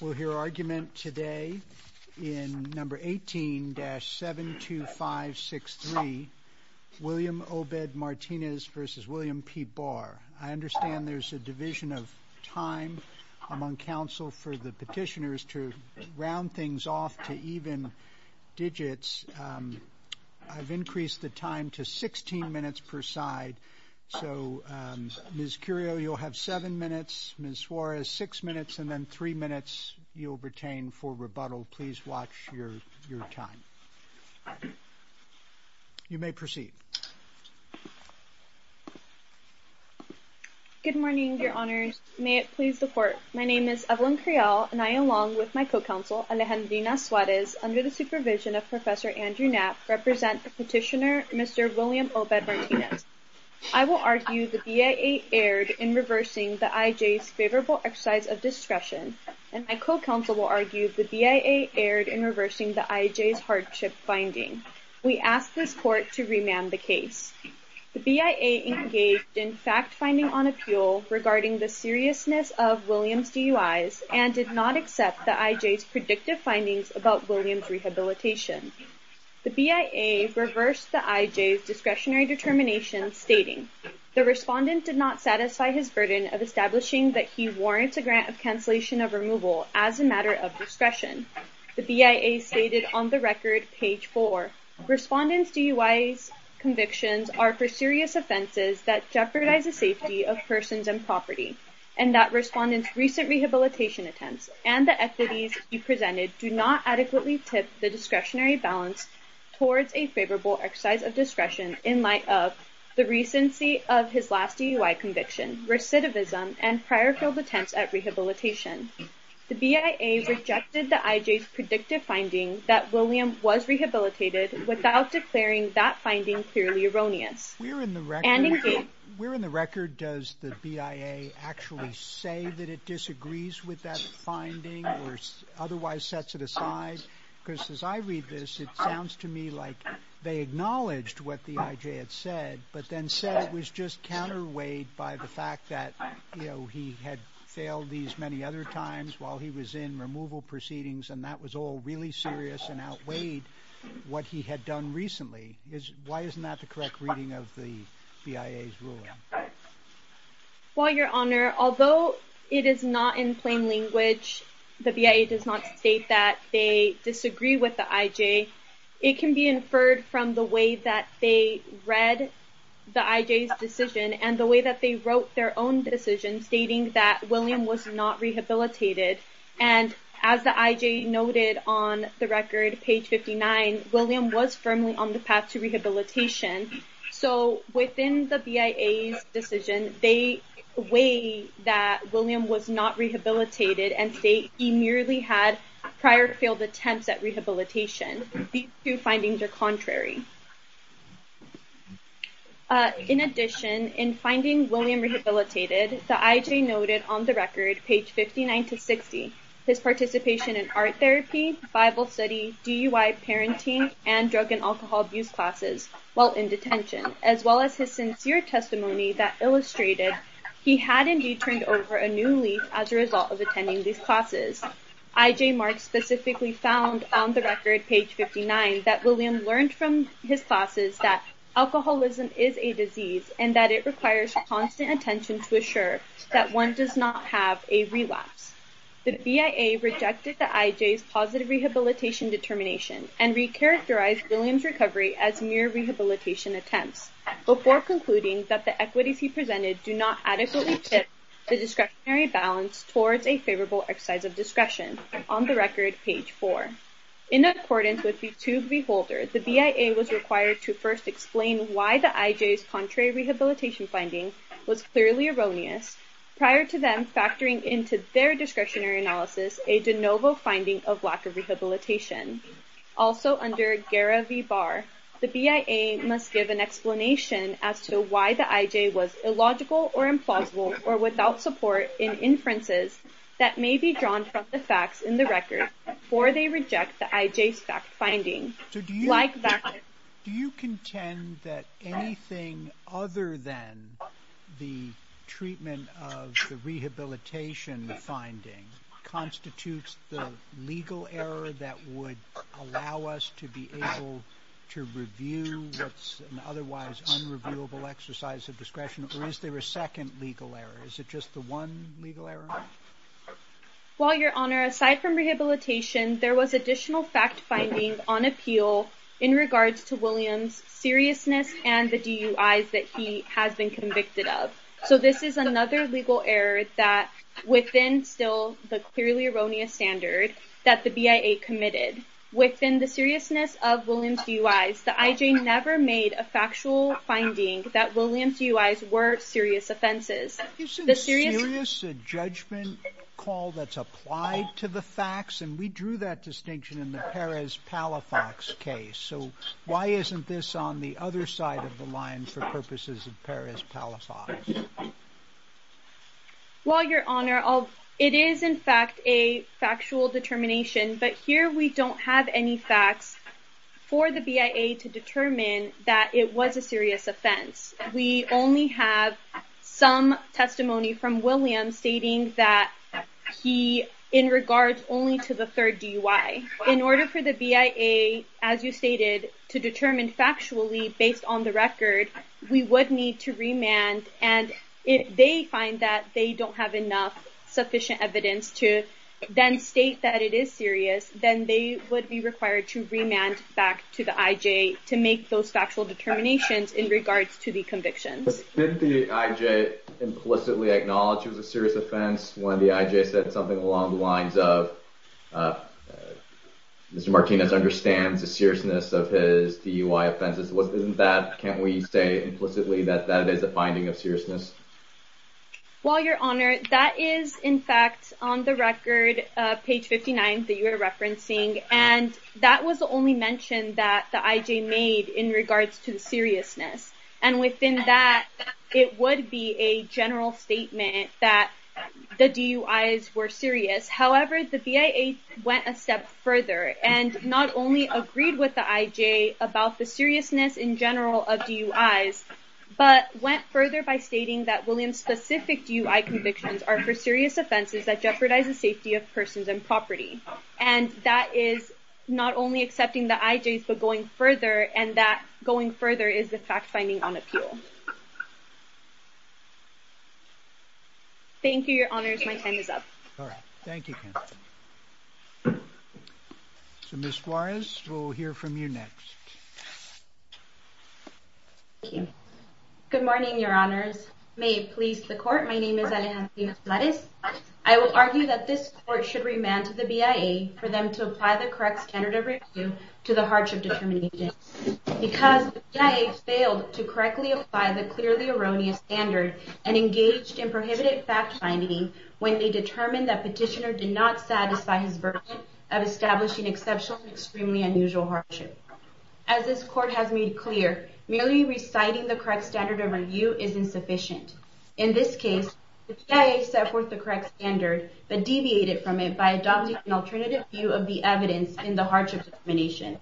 We'll hear argument today in No. 18-72563, William Obed Martinez v. William P. Barr. I understand there's a division of time among counsel for the petitioners to round things off to even digits. I've increased the time to 16 minutes per side. So, Ms. Curio, you'll have 7 minutes, Ms. Suarez, 6 minutes, and then 3 minutes you'll retain for rebuttal. Please watch your time. You may proceed. Good morning, Your Honors. May it please the Court. My name is Evelyn Creel, and I, along with my co-counsel, Alejandrina Suarez, under the supervision of Professor Andrew Knapp, represent the petitioner Mr. William Obed Martinez. I will argue the BIA erred in reversing the IJ's favorable exercise of discretion, and my co-counsel will argue the BIA erred in reversing the IJ's hardship finding. We ask this Court to remand the case. The BIA engaged in fact-finding on appeal regarding the seriousness of William's DUIs and did not accept the IJ's predictive findings about William's rehabilitation. The BIA reversed the IJ's discretionary determination, stating, The respondent did not satisfy his burden of establishing that he warrants a grant of cancellation of removal as a matter of discretion. The BIA stated on the record, page 4, of his last DUI conviction, recidivism, and prior failed attempts at rehabilitation. The BIA rejected the IJ's predictive finding that William was rehabilitated without declaring that finding clearly erroneous. Where in the record does the BIA actually say that it disagrees with that finding or otherwise sets it aside? Because as I read this, it sounds to me like they acknowledged what the IJ had said, but then said it was just counterweighed by the fact that, you know, he had failed these many other times while he was in removal proceedings, and that was all really serious and outweighed what he had done recently. Why isn't that the correct reading of the BIA's ruling? Well, Your Honor, although it is not in plain language, the BIA does not state that they disagree with the IJ, it can be inferred from the way that they read the IJ's decision and the way that they wrote their own decision, stating that William was not rehabilitated. And as the IJ noted on the record, page 59, William was firmly on the path to rehabilitation. So within the BIA's decision, they weigh that William was not rehabilitated and state he merely had prior failed attempts at rehabilitation. These two findings are contrary. In addition, in finding William rehabilitated, the IJ noted on the record, page 59-60, his participation in art therapy, Bible study, DUI parenting, and drug and alcohol abuse classes while in detention, as well as his sincere testimony that illustrated he had indeed turned over a new leaf as a result of attending these classes. IJ Marks specifically found on the record, page 59, that William learned from his classes that alcoholism is a disease and that it requires constant attention to assure that one does not have a relapse. The BIA rejected the IJ's positive rehabilitation determination and recharacterized William's recovery as mere rehabilitation attempts, before concluding that the equities he presented do not adequately tip the discretionary balance towards a favorable exercise of discretion, on the record, page 4. In accordance with the two beholders, the BIA was required to first explain why the IJ's contrary rehabilitation finding was clearly erroneous, prior to them factoring into their discretionary analysis a de novo finding of lack of rehabilitation. Also under GARA v. Barr, the BIA must give an explanation as to why the IJ was illogical or implausible or without support in inferences that may be drawn from the facts in the record, or they reject the IJ's fact finding. Do you contend that anything other than the treatment of the rehabilitation finding constitutes the legal error that would allow us to be able to review what's an otherwise unreviewable exercise of discretion, or is there a second legal error? Is it just the one legal error? Well, Your Honor, aside from rehabilitation, there was additional fact finding on appeal in regards to William's seriousness and the DUIs that he has been convicted of. So this is another legal error that, within still the clearly erroneous standard that the BIA committed. Within the seriousness of William's DUIs, the IJ never made a factual finding that William's DUIs were serious offenses. Isn't serious a judgment call that's applied to the facts? And we drew that distinction in the Perez-Palafox case. So why isn't this on the other side of the line for purposes of Perez-Palafox? Well, Your Honor, it is in fact a factual determination, but here we don't have any facts for the BIA to determine that it was a serious offense. We only have some testimony from William stating that he, in regards only to the third DUI. In order for the BIA, as you stated, to determine factually based on the record, we would need to remand. And if they find that they don't have enough sufficient evidence to then state that it is serious, then they would be required to remand back to the IJ to make those factual determinations in regards to the convictions. But didn't the IJ implicitly acknowledge it was a serious offense when the IJ said something along the lines of, Mr. Martinez understands the seriousness of his DUI offenses? Isn't that, can't we say implicitly that that is a finding of seriousness? Well, Your Honor, that is in fact on the record, page 59, that you are referencing. And that was the only mention that the IJ made in regards to seriousness. And within that, it would be a general statement that the DUIs were serious. However, the BIA went a step further and not only agreed with the IJ about the seriousness in general of DUIs, but went further by stating that Williams-specific DUI convictions are for serious offenses that jeopardize the safety of persons and property. And that is not only accepting the IJs, but going further, and that going further is the fact-finding on appeal. Thank you, Your Honors. My time is up. All right. Thank you, Ken. So, Ms. Suarez, we'll hear from you next. Thank you. Good morning, Your Honors. May it please the Court, my name is Alejandra Suarez. I will argue that this Court should remand to the BIA for them to apply the correct standard of review to the hardship determination. Because the BIA failed to correctly apply the clearly erroneous standard and engaged in prohibited fact-finding when they determined that petitioner did not satisfy his version of establishing exceptional and extremely unusual hardship. As this Court has made clear, merely reciting the correct standard of review is insufficient. In this case, the BIA set forth the correct standard, but deviated from it by adopting an alternative view of the evidence in the hardship determination.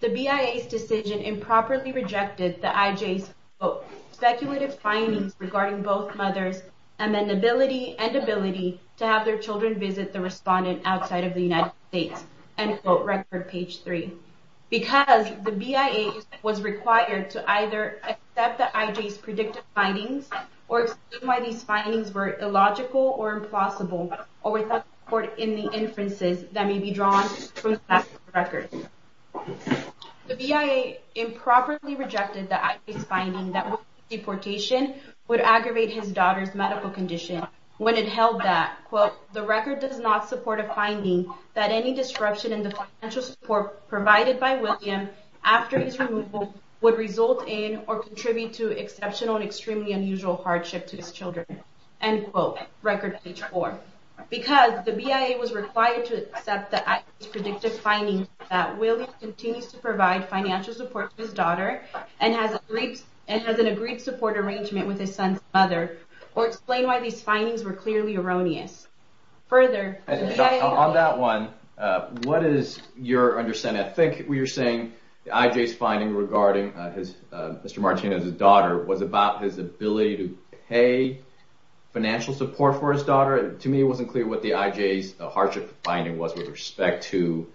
The BIA's decision improperly rejected the IJ's, quote, speculative findings regarding both mothers' amenability and ability to have their children visit the respondent outside of the United States, end quote, record page 3. Because the BIA was required to either accept the IJ's predictive findings or explain why these findings were illogical or impossible or without support in the inferences that may be drawn from the past records. The BIA improperly rejected the IJ's finding that William's deportation would aggravate his daughter's medical condition when it held that, quote, the record does not support a finding that any disruption in the financial support provided by William after his removal would result in or contribute to exceptional and extremely unusual hardship to his children, end quote, record page 4. Because the BIA was required to accept the IJ's predictive findings that William continues to provide financial support to his daughter and has an agreed support arrangement with his son's mother or explain why these findings were clearly erroneous. On that one, what is your understanding? I think you're saying the IJ's finding regarding Mr. Martinez's daughter was about his ability to pay financial support for his daughter. To me it wasn't clear what the IJ's hardship finding was with respect to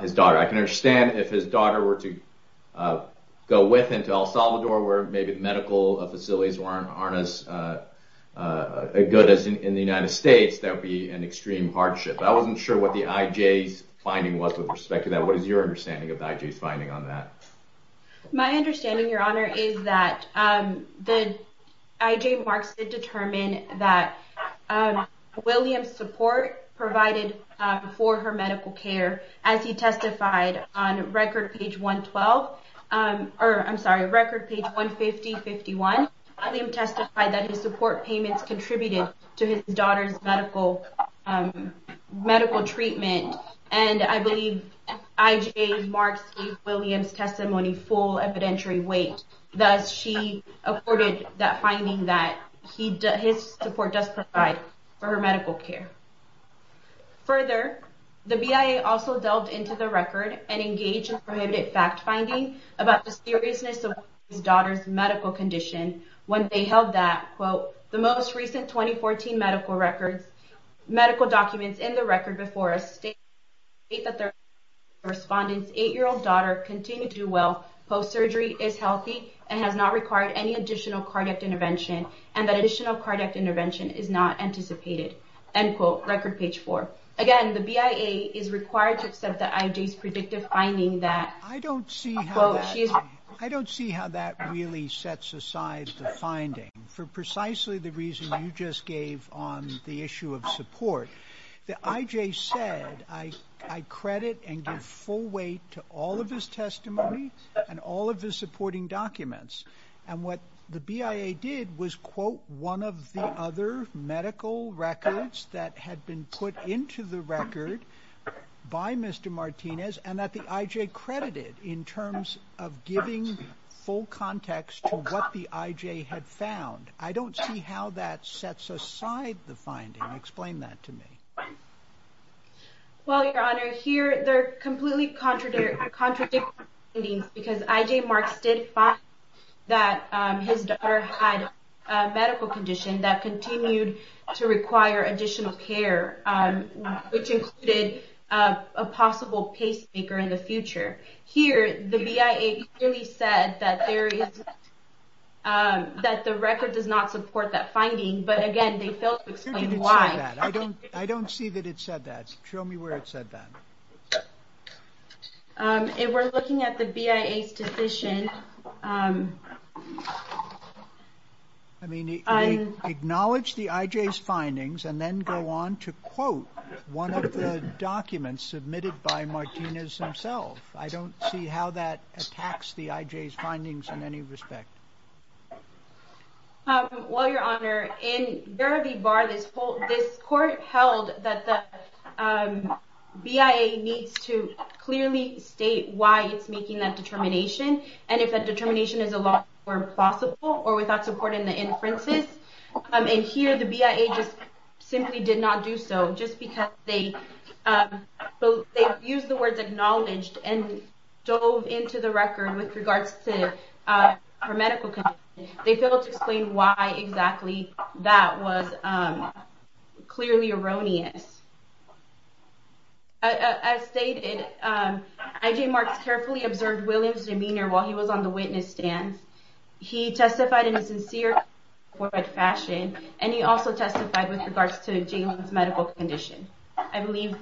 his daughter. I can understand if his daughter were to go with him to El Salvador where maybe the medical facilities aren't as good as in the United States, that would be an extreme hardship. I wasn't sure what the IJ's finding was with respect to that. What is your understanding of the IJ's finding on that? My understanding, Your Honor, is that the IJ marks to determine that William's support provided for her medical care as he testified on record page 112, or I'm sorry, record page 150-151, William testified that his support payments contributed to his daughter's medical treatment. I believe IJ marks William's testimony full evidentiary weight. Thus, she accorded that finding that his support does provide for her medical care. Further, the BIA also delved into the record and engaged in prohibited fact finding about the seriousness of his daughter's medical condition. When they held that, quote, the most recent 2014 medical documents in the record before us state that their cardiac intervention is not anticipated, end quote, record page four. Again, the BIA is required to accept the IJ's predictive finding that, quote, she is- of the other medical records that had been put into the record by Mr. Martinez and that the IJ credited in terms of giving full context to what the IJ had found. I don't see how that sets aside the finding. Explain that to me. Well, Your Honor, here they're completely contradictory findings because IJ marks did find that his daughter had a medical condition that continued to require additional care, which included a possible pacemaker in the future. Here, the BIA clearly said that there is- that the record does not support that finding, but again, they failed to explain why. I don't see that it said that. Show me where it said that. If we're looking at the BIA's decision- Acknowledge the IJ's findings and then go on to quote one of the documents submitted by Martinez himself. I don't see how that attacks the IJ's findings in any respect. Well, Your Honor, in Verity Bar, this court held that the BIA needs to clearly state why it's making that determination and if that determination is a lawful or implausible or without supporting the inferences. In here, the BIA just simply did not do so just because they used the words acknowledged and dove into the record with regards to her medical condition. They failed to explain why exactly that was clearly erroneous. As stated, IJ Marks carefully observed Williams' demeanor while he was on the witness stand. He testified in a sincere, forward fashion, and he also testified with regards to Jaylee's medical condition, I believe.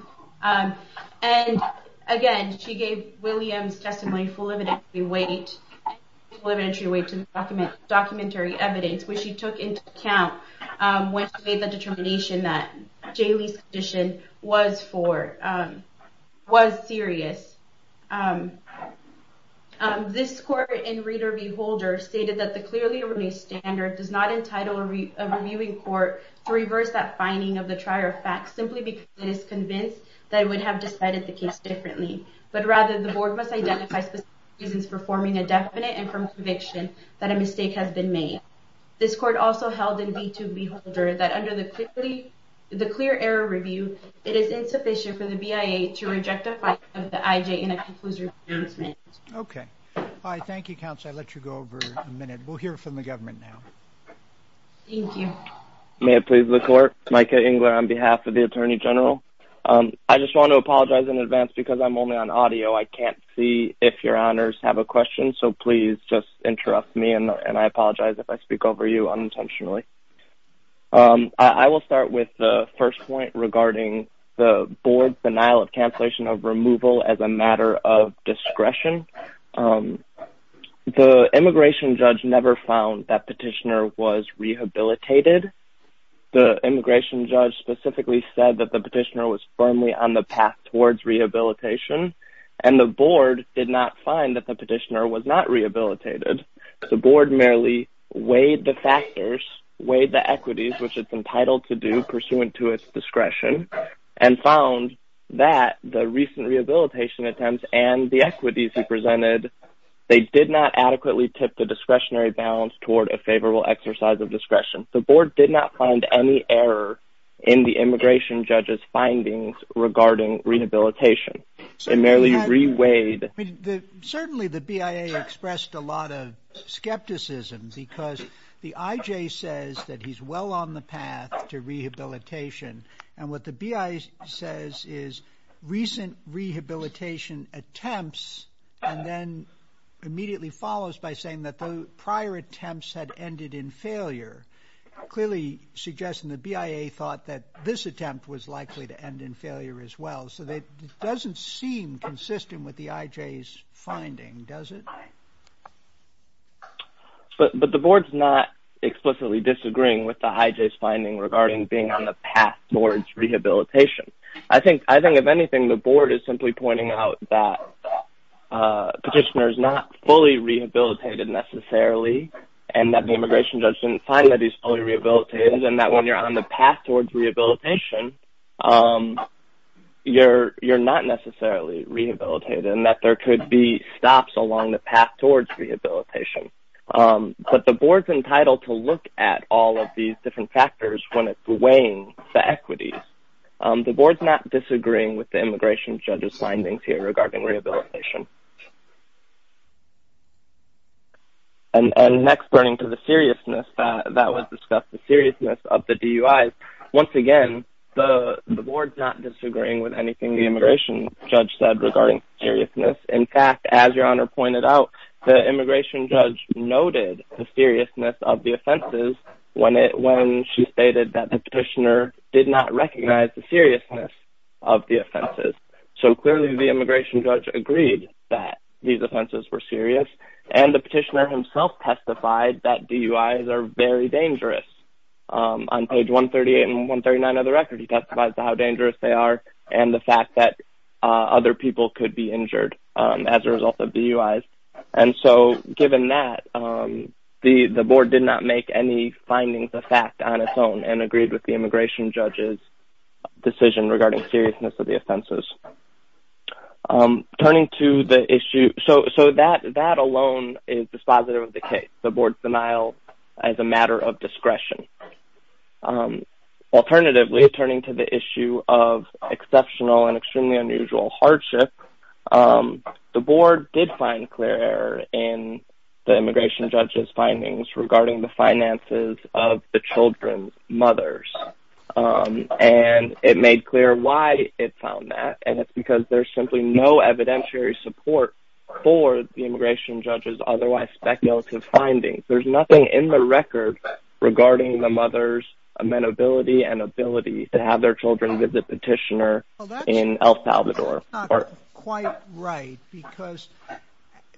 Again, she gave Williams' testimony full evidentiary weight to the documentary evidence, which she took into account when she made the determination that Jaylee's condition was serious. This court in Reader v. Holder stated that the clearly erroneous standard does not entitle a reviewing court to reverse that finding of the trier of facts simply because it is convinced that it would have decided the case differently, but rather the board must identify specific reasons for forming a definite and firm conviction that a mistake has been made. This court also held in B2 v. Holder that under the clear error review, it is insufficient for the BIA to reject a finding of the IJ in a conclusive assessment. Okay. Thank you, counsel. I'll let you go over in a minute. We'll hear from the government now. Thank you. May it please the court? Micah Engler on behalf of the Attorney General. I just want to apologize in advance because I'm only on audio. I can't see if your honors have a question, so please just interrupt me, and I apologize if I speak over you unintentionally. I will start with the first point regarding the board's denial of cancellation of removal as a matter of discretion. The immigration judge never found that petitioner was rehabilitated. The immigration judge specifically said that the petitioner was firmly on the path towards rehabilitation, and the board did not find that the petitioner was not rehabilitated. The board merely weighed the factors, weighed the equities, which it's entitled to do pursuant to its discretion, and found that the recent rehabilitation attempts and the equities he presented, they did not adequately tip the discretionary balance toward a favorable exercise of discretion. The board did not find any error in the immigration judge's findings regarding rehabilitation. Certainly the BIA expressed a lot of skepticism because the IJ says that he's well on the path to rehabilitation, and what the BIA says is recent rehabilitation attempts, and then immediately follows by saying that the prior attempts had ended in failure, clearly suggesting the BIA thought that this attempt was likely to end in failure as well. So it doesn't seem consistent with the IJ's finding, does it? But the board's not explicitly disagreeing with the IJ's finding regarding being on the path towards rehabilitation. I think, if anything, the board is simply pointing out that the petitioner is not fully rehabilitated necessarily, and that the immigration judge didn't find that he's fully rehabilitated, and that when you're on the path towards rehabilitation, you're not necessarily rehabilitated, and that there could be stops along the path towards rehabilitation. But the board's entitled to look at all of these different factors when it's weighing the equities. The board's not disagreeing with the immigration judge's findings here regarding rehabilitation. And next, burning to the seriousness, that was discussed, the seriousness of the DUIs. Once again, the board's not disagreeing with anything the immigration judge said regarding seriousness. In fact, as Your Honor pointed out, the immigration judge noted the seriousness of the offenses when she stated that the petitioner did not recognize the seriousness of the offenses. So clearly, the immigration judge agreed that these offenses were serious, and the petitioner himself testified that DUIs are very dangerous. On page 138 and 139 of the record, he testified to how dangerous they are and the fact that other people could be injured as a result of DUIs. And so, given that, the board did not make any findings of fact on its own and agreed with the immigration judge's decision regarding seriousness of the offenses. Turning to the issue, so that alone is dispositive of the case, the board's denial as a matter of discretion. Alternatively, turning to the issue of exceptional and extremely unusual hardship, the board did find clear error in the immigration judge's findings regarding the finances of the children's mothers. And it made clear why it found that, and it's because there's simply no evidentiary support for the immigration judge's otherwise speculative findings. There's nothing in the record regarding the mother's amenability and ability to have their children visit the petitioner in El Salvador. That's not quite right, because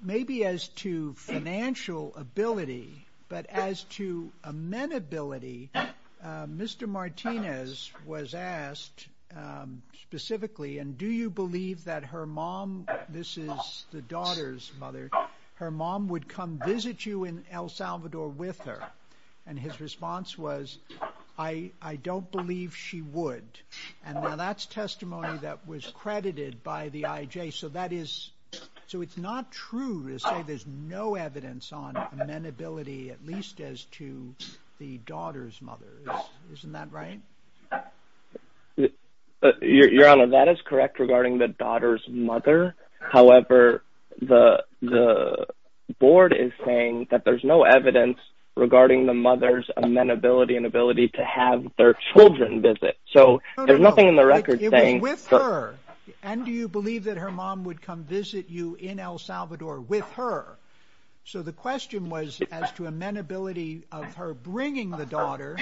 maybe as to financial ability, but as to amenability, Mr. Martinez was asked specifically, and do you believe that her mom, this is the daughter's mother, her mom would come visit you in El Salvador with her? And his response was, I don't believe she would. And now that's testimony that was credited by the IJ, so that is, so it's not true to say there's no evidence on amenability, at least as to the daughter's mother. Isn't that right? Your Honor, that is correct regarding the daughter's mother. However, the board is saying that there's no evidence regarding the mother's amenability and ability to have their children visit. So there's nothing in the record saying... It was with her. And do you believe that her mom would come visit you in El Salvador with her? So the question was as to amenability of her bringing the daughter,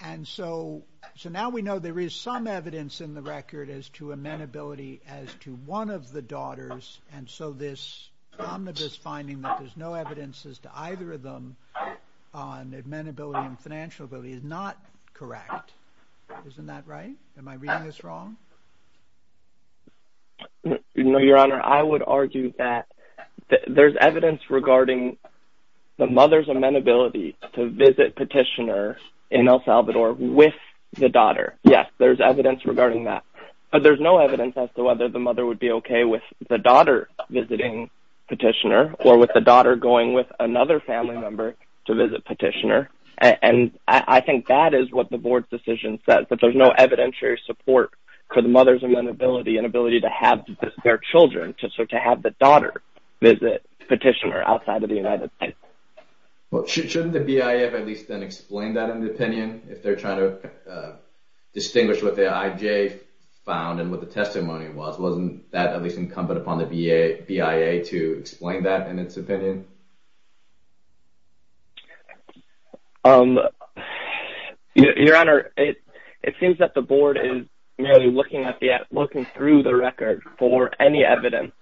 and so now we know there is some evidence in the record as to amenability as to one of the daughters, and so this omnibus finding that there's no evidence as to either of them on amenability and financial ability is not correct. Isn't that right? Am I reading this wrong? No, Your Honor. I would argue that there's evidence regarding the mother's amenability to visit petitioner in El Salvador with the daughter. Yes, there's evidence regarding that. But there's no evidence as to whether the mother would be okay with the daughter visiting petitioner or with the daughter going with another family member to visit petitioner. And I think that is what the board's decision says, that there's no evidentiary support for the mother's amenability and ability to have their children to have the daughter visit petitioner outside of the United States. Well, shouldn't the BIA at least then explain that in the opinion if they're trying to distinguish what the IJ found and what the testimony was? Wasn't that at least incumbent upon the BIA to explain that in its opinion? Your Honor, it seems that the board is merely looking through the record for any evidence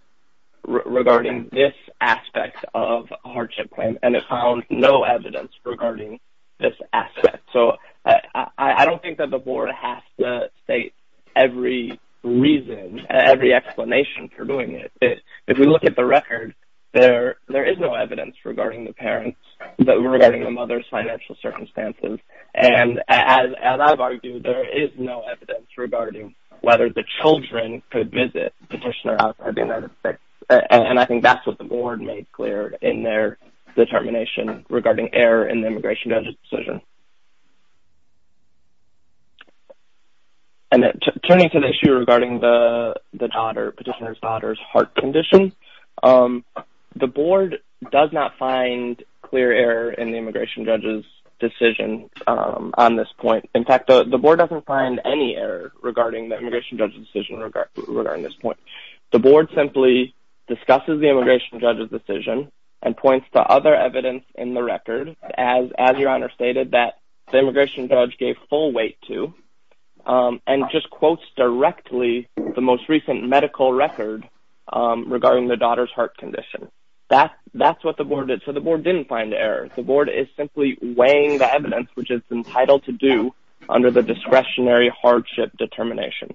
regarding this aspect of a hardship claim, and it found no evidence regarding this aspect. So I don't think that the board has to state every reason, every explanation for doing it. If we look at the record, there is no evidence regarding the parents, regarding the mother's financial circumstances. And as I've argued, there is no evidence regarding whether the children could visit petitioner outside the United States. And I think that's what the board made clear in their determination regarding error in the immigration judge's decision. And turning to the issue regarding the daughter, petitioner's daughter's heart condition, the board does not find clear error in the immigration judge's decision on this point. In fact, the board doesn't find any error regarding the immigration judge's decision regarding this point. The board simply discusses the immigration judge's decision and points to other evidence in the record, as Your Honor stated, that the immigration judge gave full weight to, and just quotes directly the most recent medical record regarding the daughter's heart condition. That's what the board did. So the board didn't find error. The board is simply weighing the evidence which it's entitled to do under the discretionary hardship determination.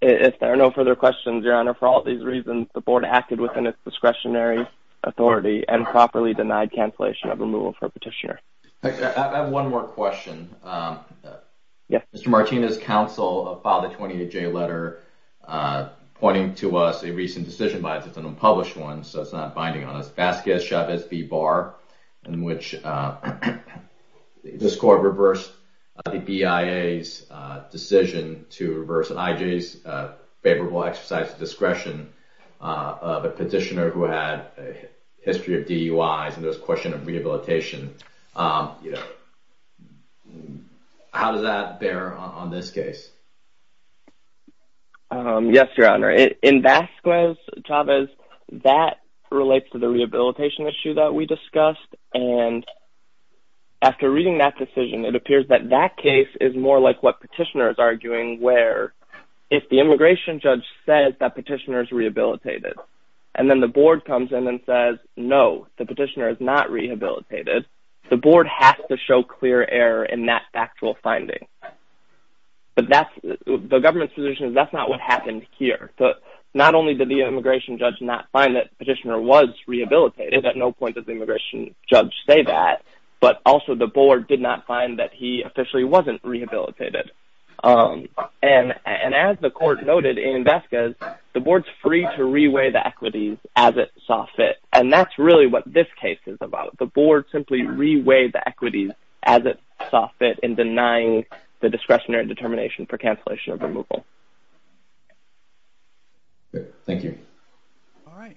If there are no further questions, Your Honor, for all these reasons, the board acted within its discretionary authority and properly denied cancellation of removal for a petitioner. I have one more question. Yes. Mr. Martinez's counsel filed a 28-J letter pointing to us a recent decision bias. It's an unpublished one, so it's not binding on us. Vasquez Chavez v. Barr, in which this court reversed the BIA's decision to reverse an IJ's favorable exercise of discretion of a petitioner who had a history of DUIs, and there was a question of rehabilitation. How does that bear on this case? Yes, Your Honor. In Vasquez Chavez, that relates to the rehabilitation issue that we discussed, and after reading that decision, it appears that that case is more like what petitioner is arguing, where if the immigration judge says that petitioner is rehabilitated, and then the board comes in and says, no, the petitioner is not rehabilitated, the board has to show clear error in that factual finding. But the government's position is that's not what happened here. Not only did the immigration judge not find that petitioner was rehabilitated, at no point did the immigration judge say that, but also the board did not find that he officially wasn't rehabilitated. And as the court noted in Vasquez, the board's free to reweigh the equities as it saw fit, and that's really what this case is about. The board simply reweighed the equities as it saw fit in denying the discretionary determination for cancellation of removal. Thank you. All right.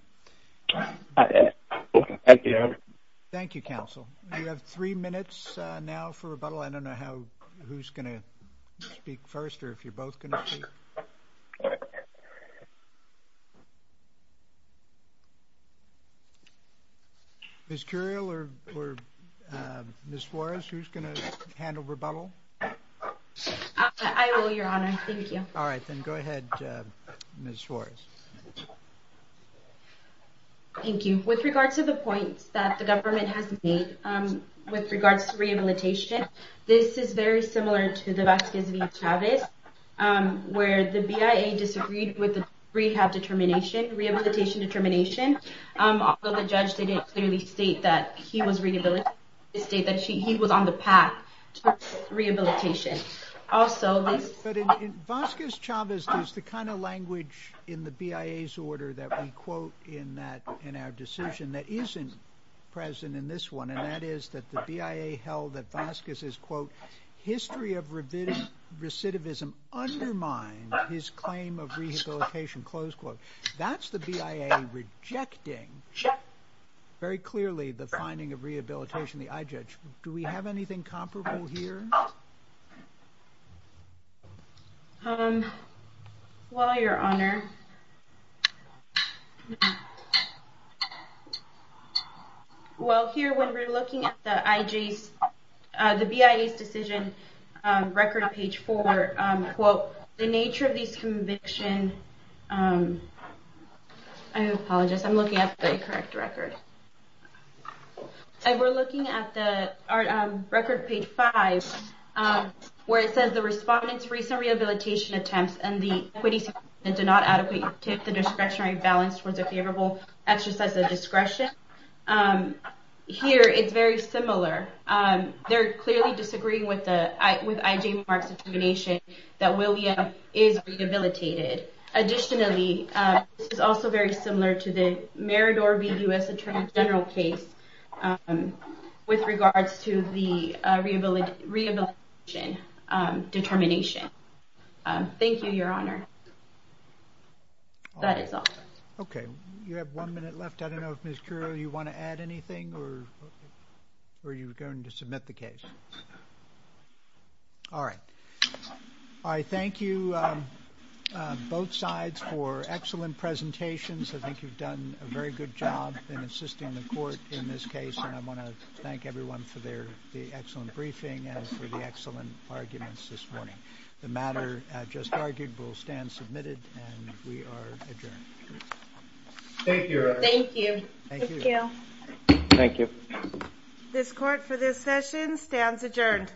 Thank you, Your Honor. Thank you, counsel. You have three minutes now for rebuttal. I don't know who's going to speak first or if you're both going to speak. Ms. Curiel or Ms. Suarez, who's going to handle rebuttal? I will, Your Honor. Thank you. All right. Then go ahead, Ms. Suarez. Thank you. With regards to the points that the government has made with regards to rehabilitation, this is very similar to the Vasquez v. Chavez, where the BIA disagreed with the rehab determination, rehabilitation determination. Although the judge didn't clearly state that he was rehabilitated, he did state that he was on the path to rehabilitation. But Vasquez-Chavez is the kind of language in the BIA's order that we quote in our decision that isn't present in this one, and that is that the BIA held that Vasquez's, quote, history of recidivism undermined his claim of rehabilitation, close quote. That's the BIA rejecting very clearly the finding of rehabilitation, the i-judge. Do we have anything comparable here? No. Well, Your Honor. Well, here when we're looking at the BIA's decision record on page four, quote, the nature of this conviction... I apologize. I'm looking at the correct record. We're looking at the record page five, where it says the respondent's recent rehabilitation attempts and the acquittees did not adequately tip the discretionary balance towards a favorable exercise of discretion. Here, it's very similar. They're clearly disagreeing with I.J. Mark's determination that William is rehabilitated. Additionally, this is also very similar to the Marador v. U.S. Attorney General case with regards to the rehabilitation determination. Thank you, Your Honor. That is all. Okay. You have one minute left. I don't know if, Ms. Curio, you want to add anything or are you going to submit the case? All right. I thank you, both sides, for excellent presentations. I think you've done a very good job in assisting the court in this case, and I want to thank everyone for the excellent briefing and for the excellent arguments this morning. The matter just argued will stand submitted, and we are adjourned. Thank you, Your Honor. Thank you. Thank you. Thank you. Thank you. Thank you. This court for this session stands adjourned.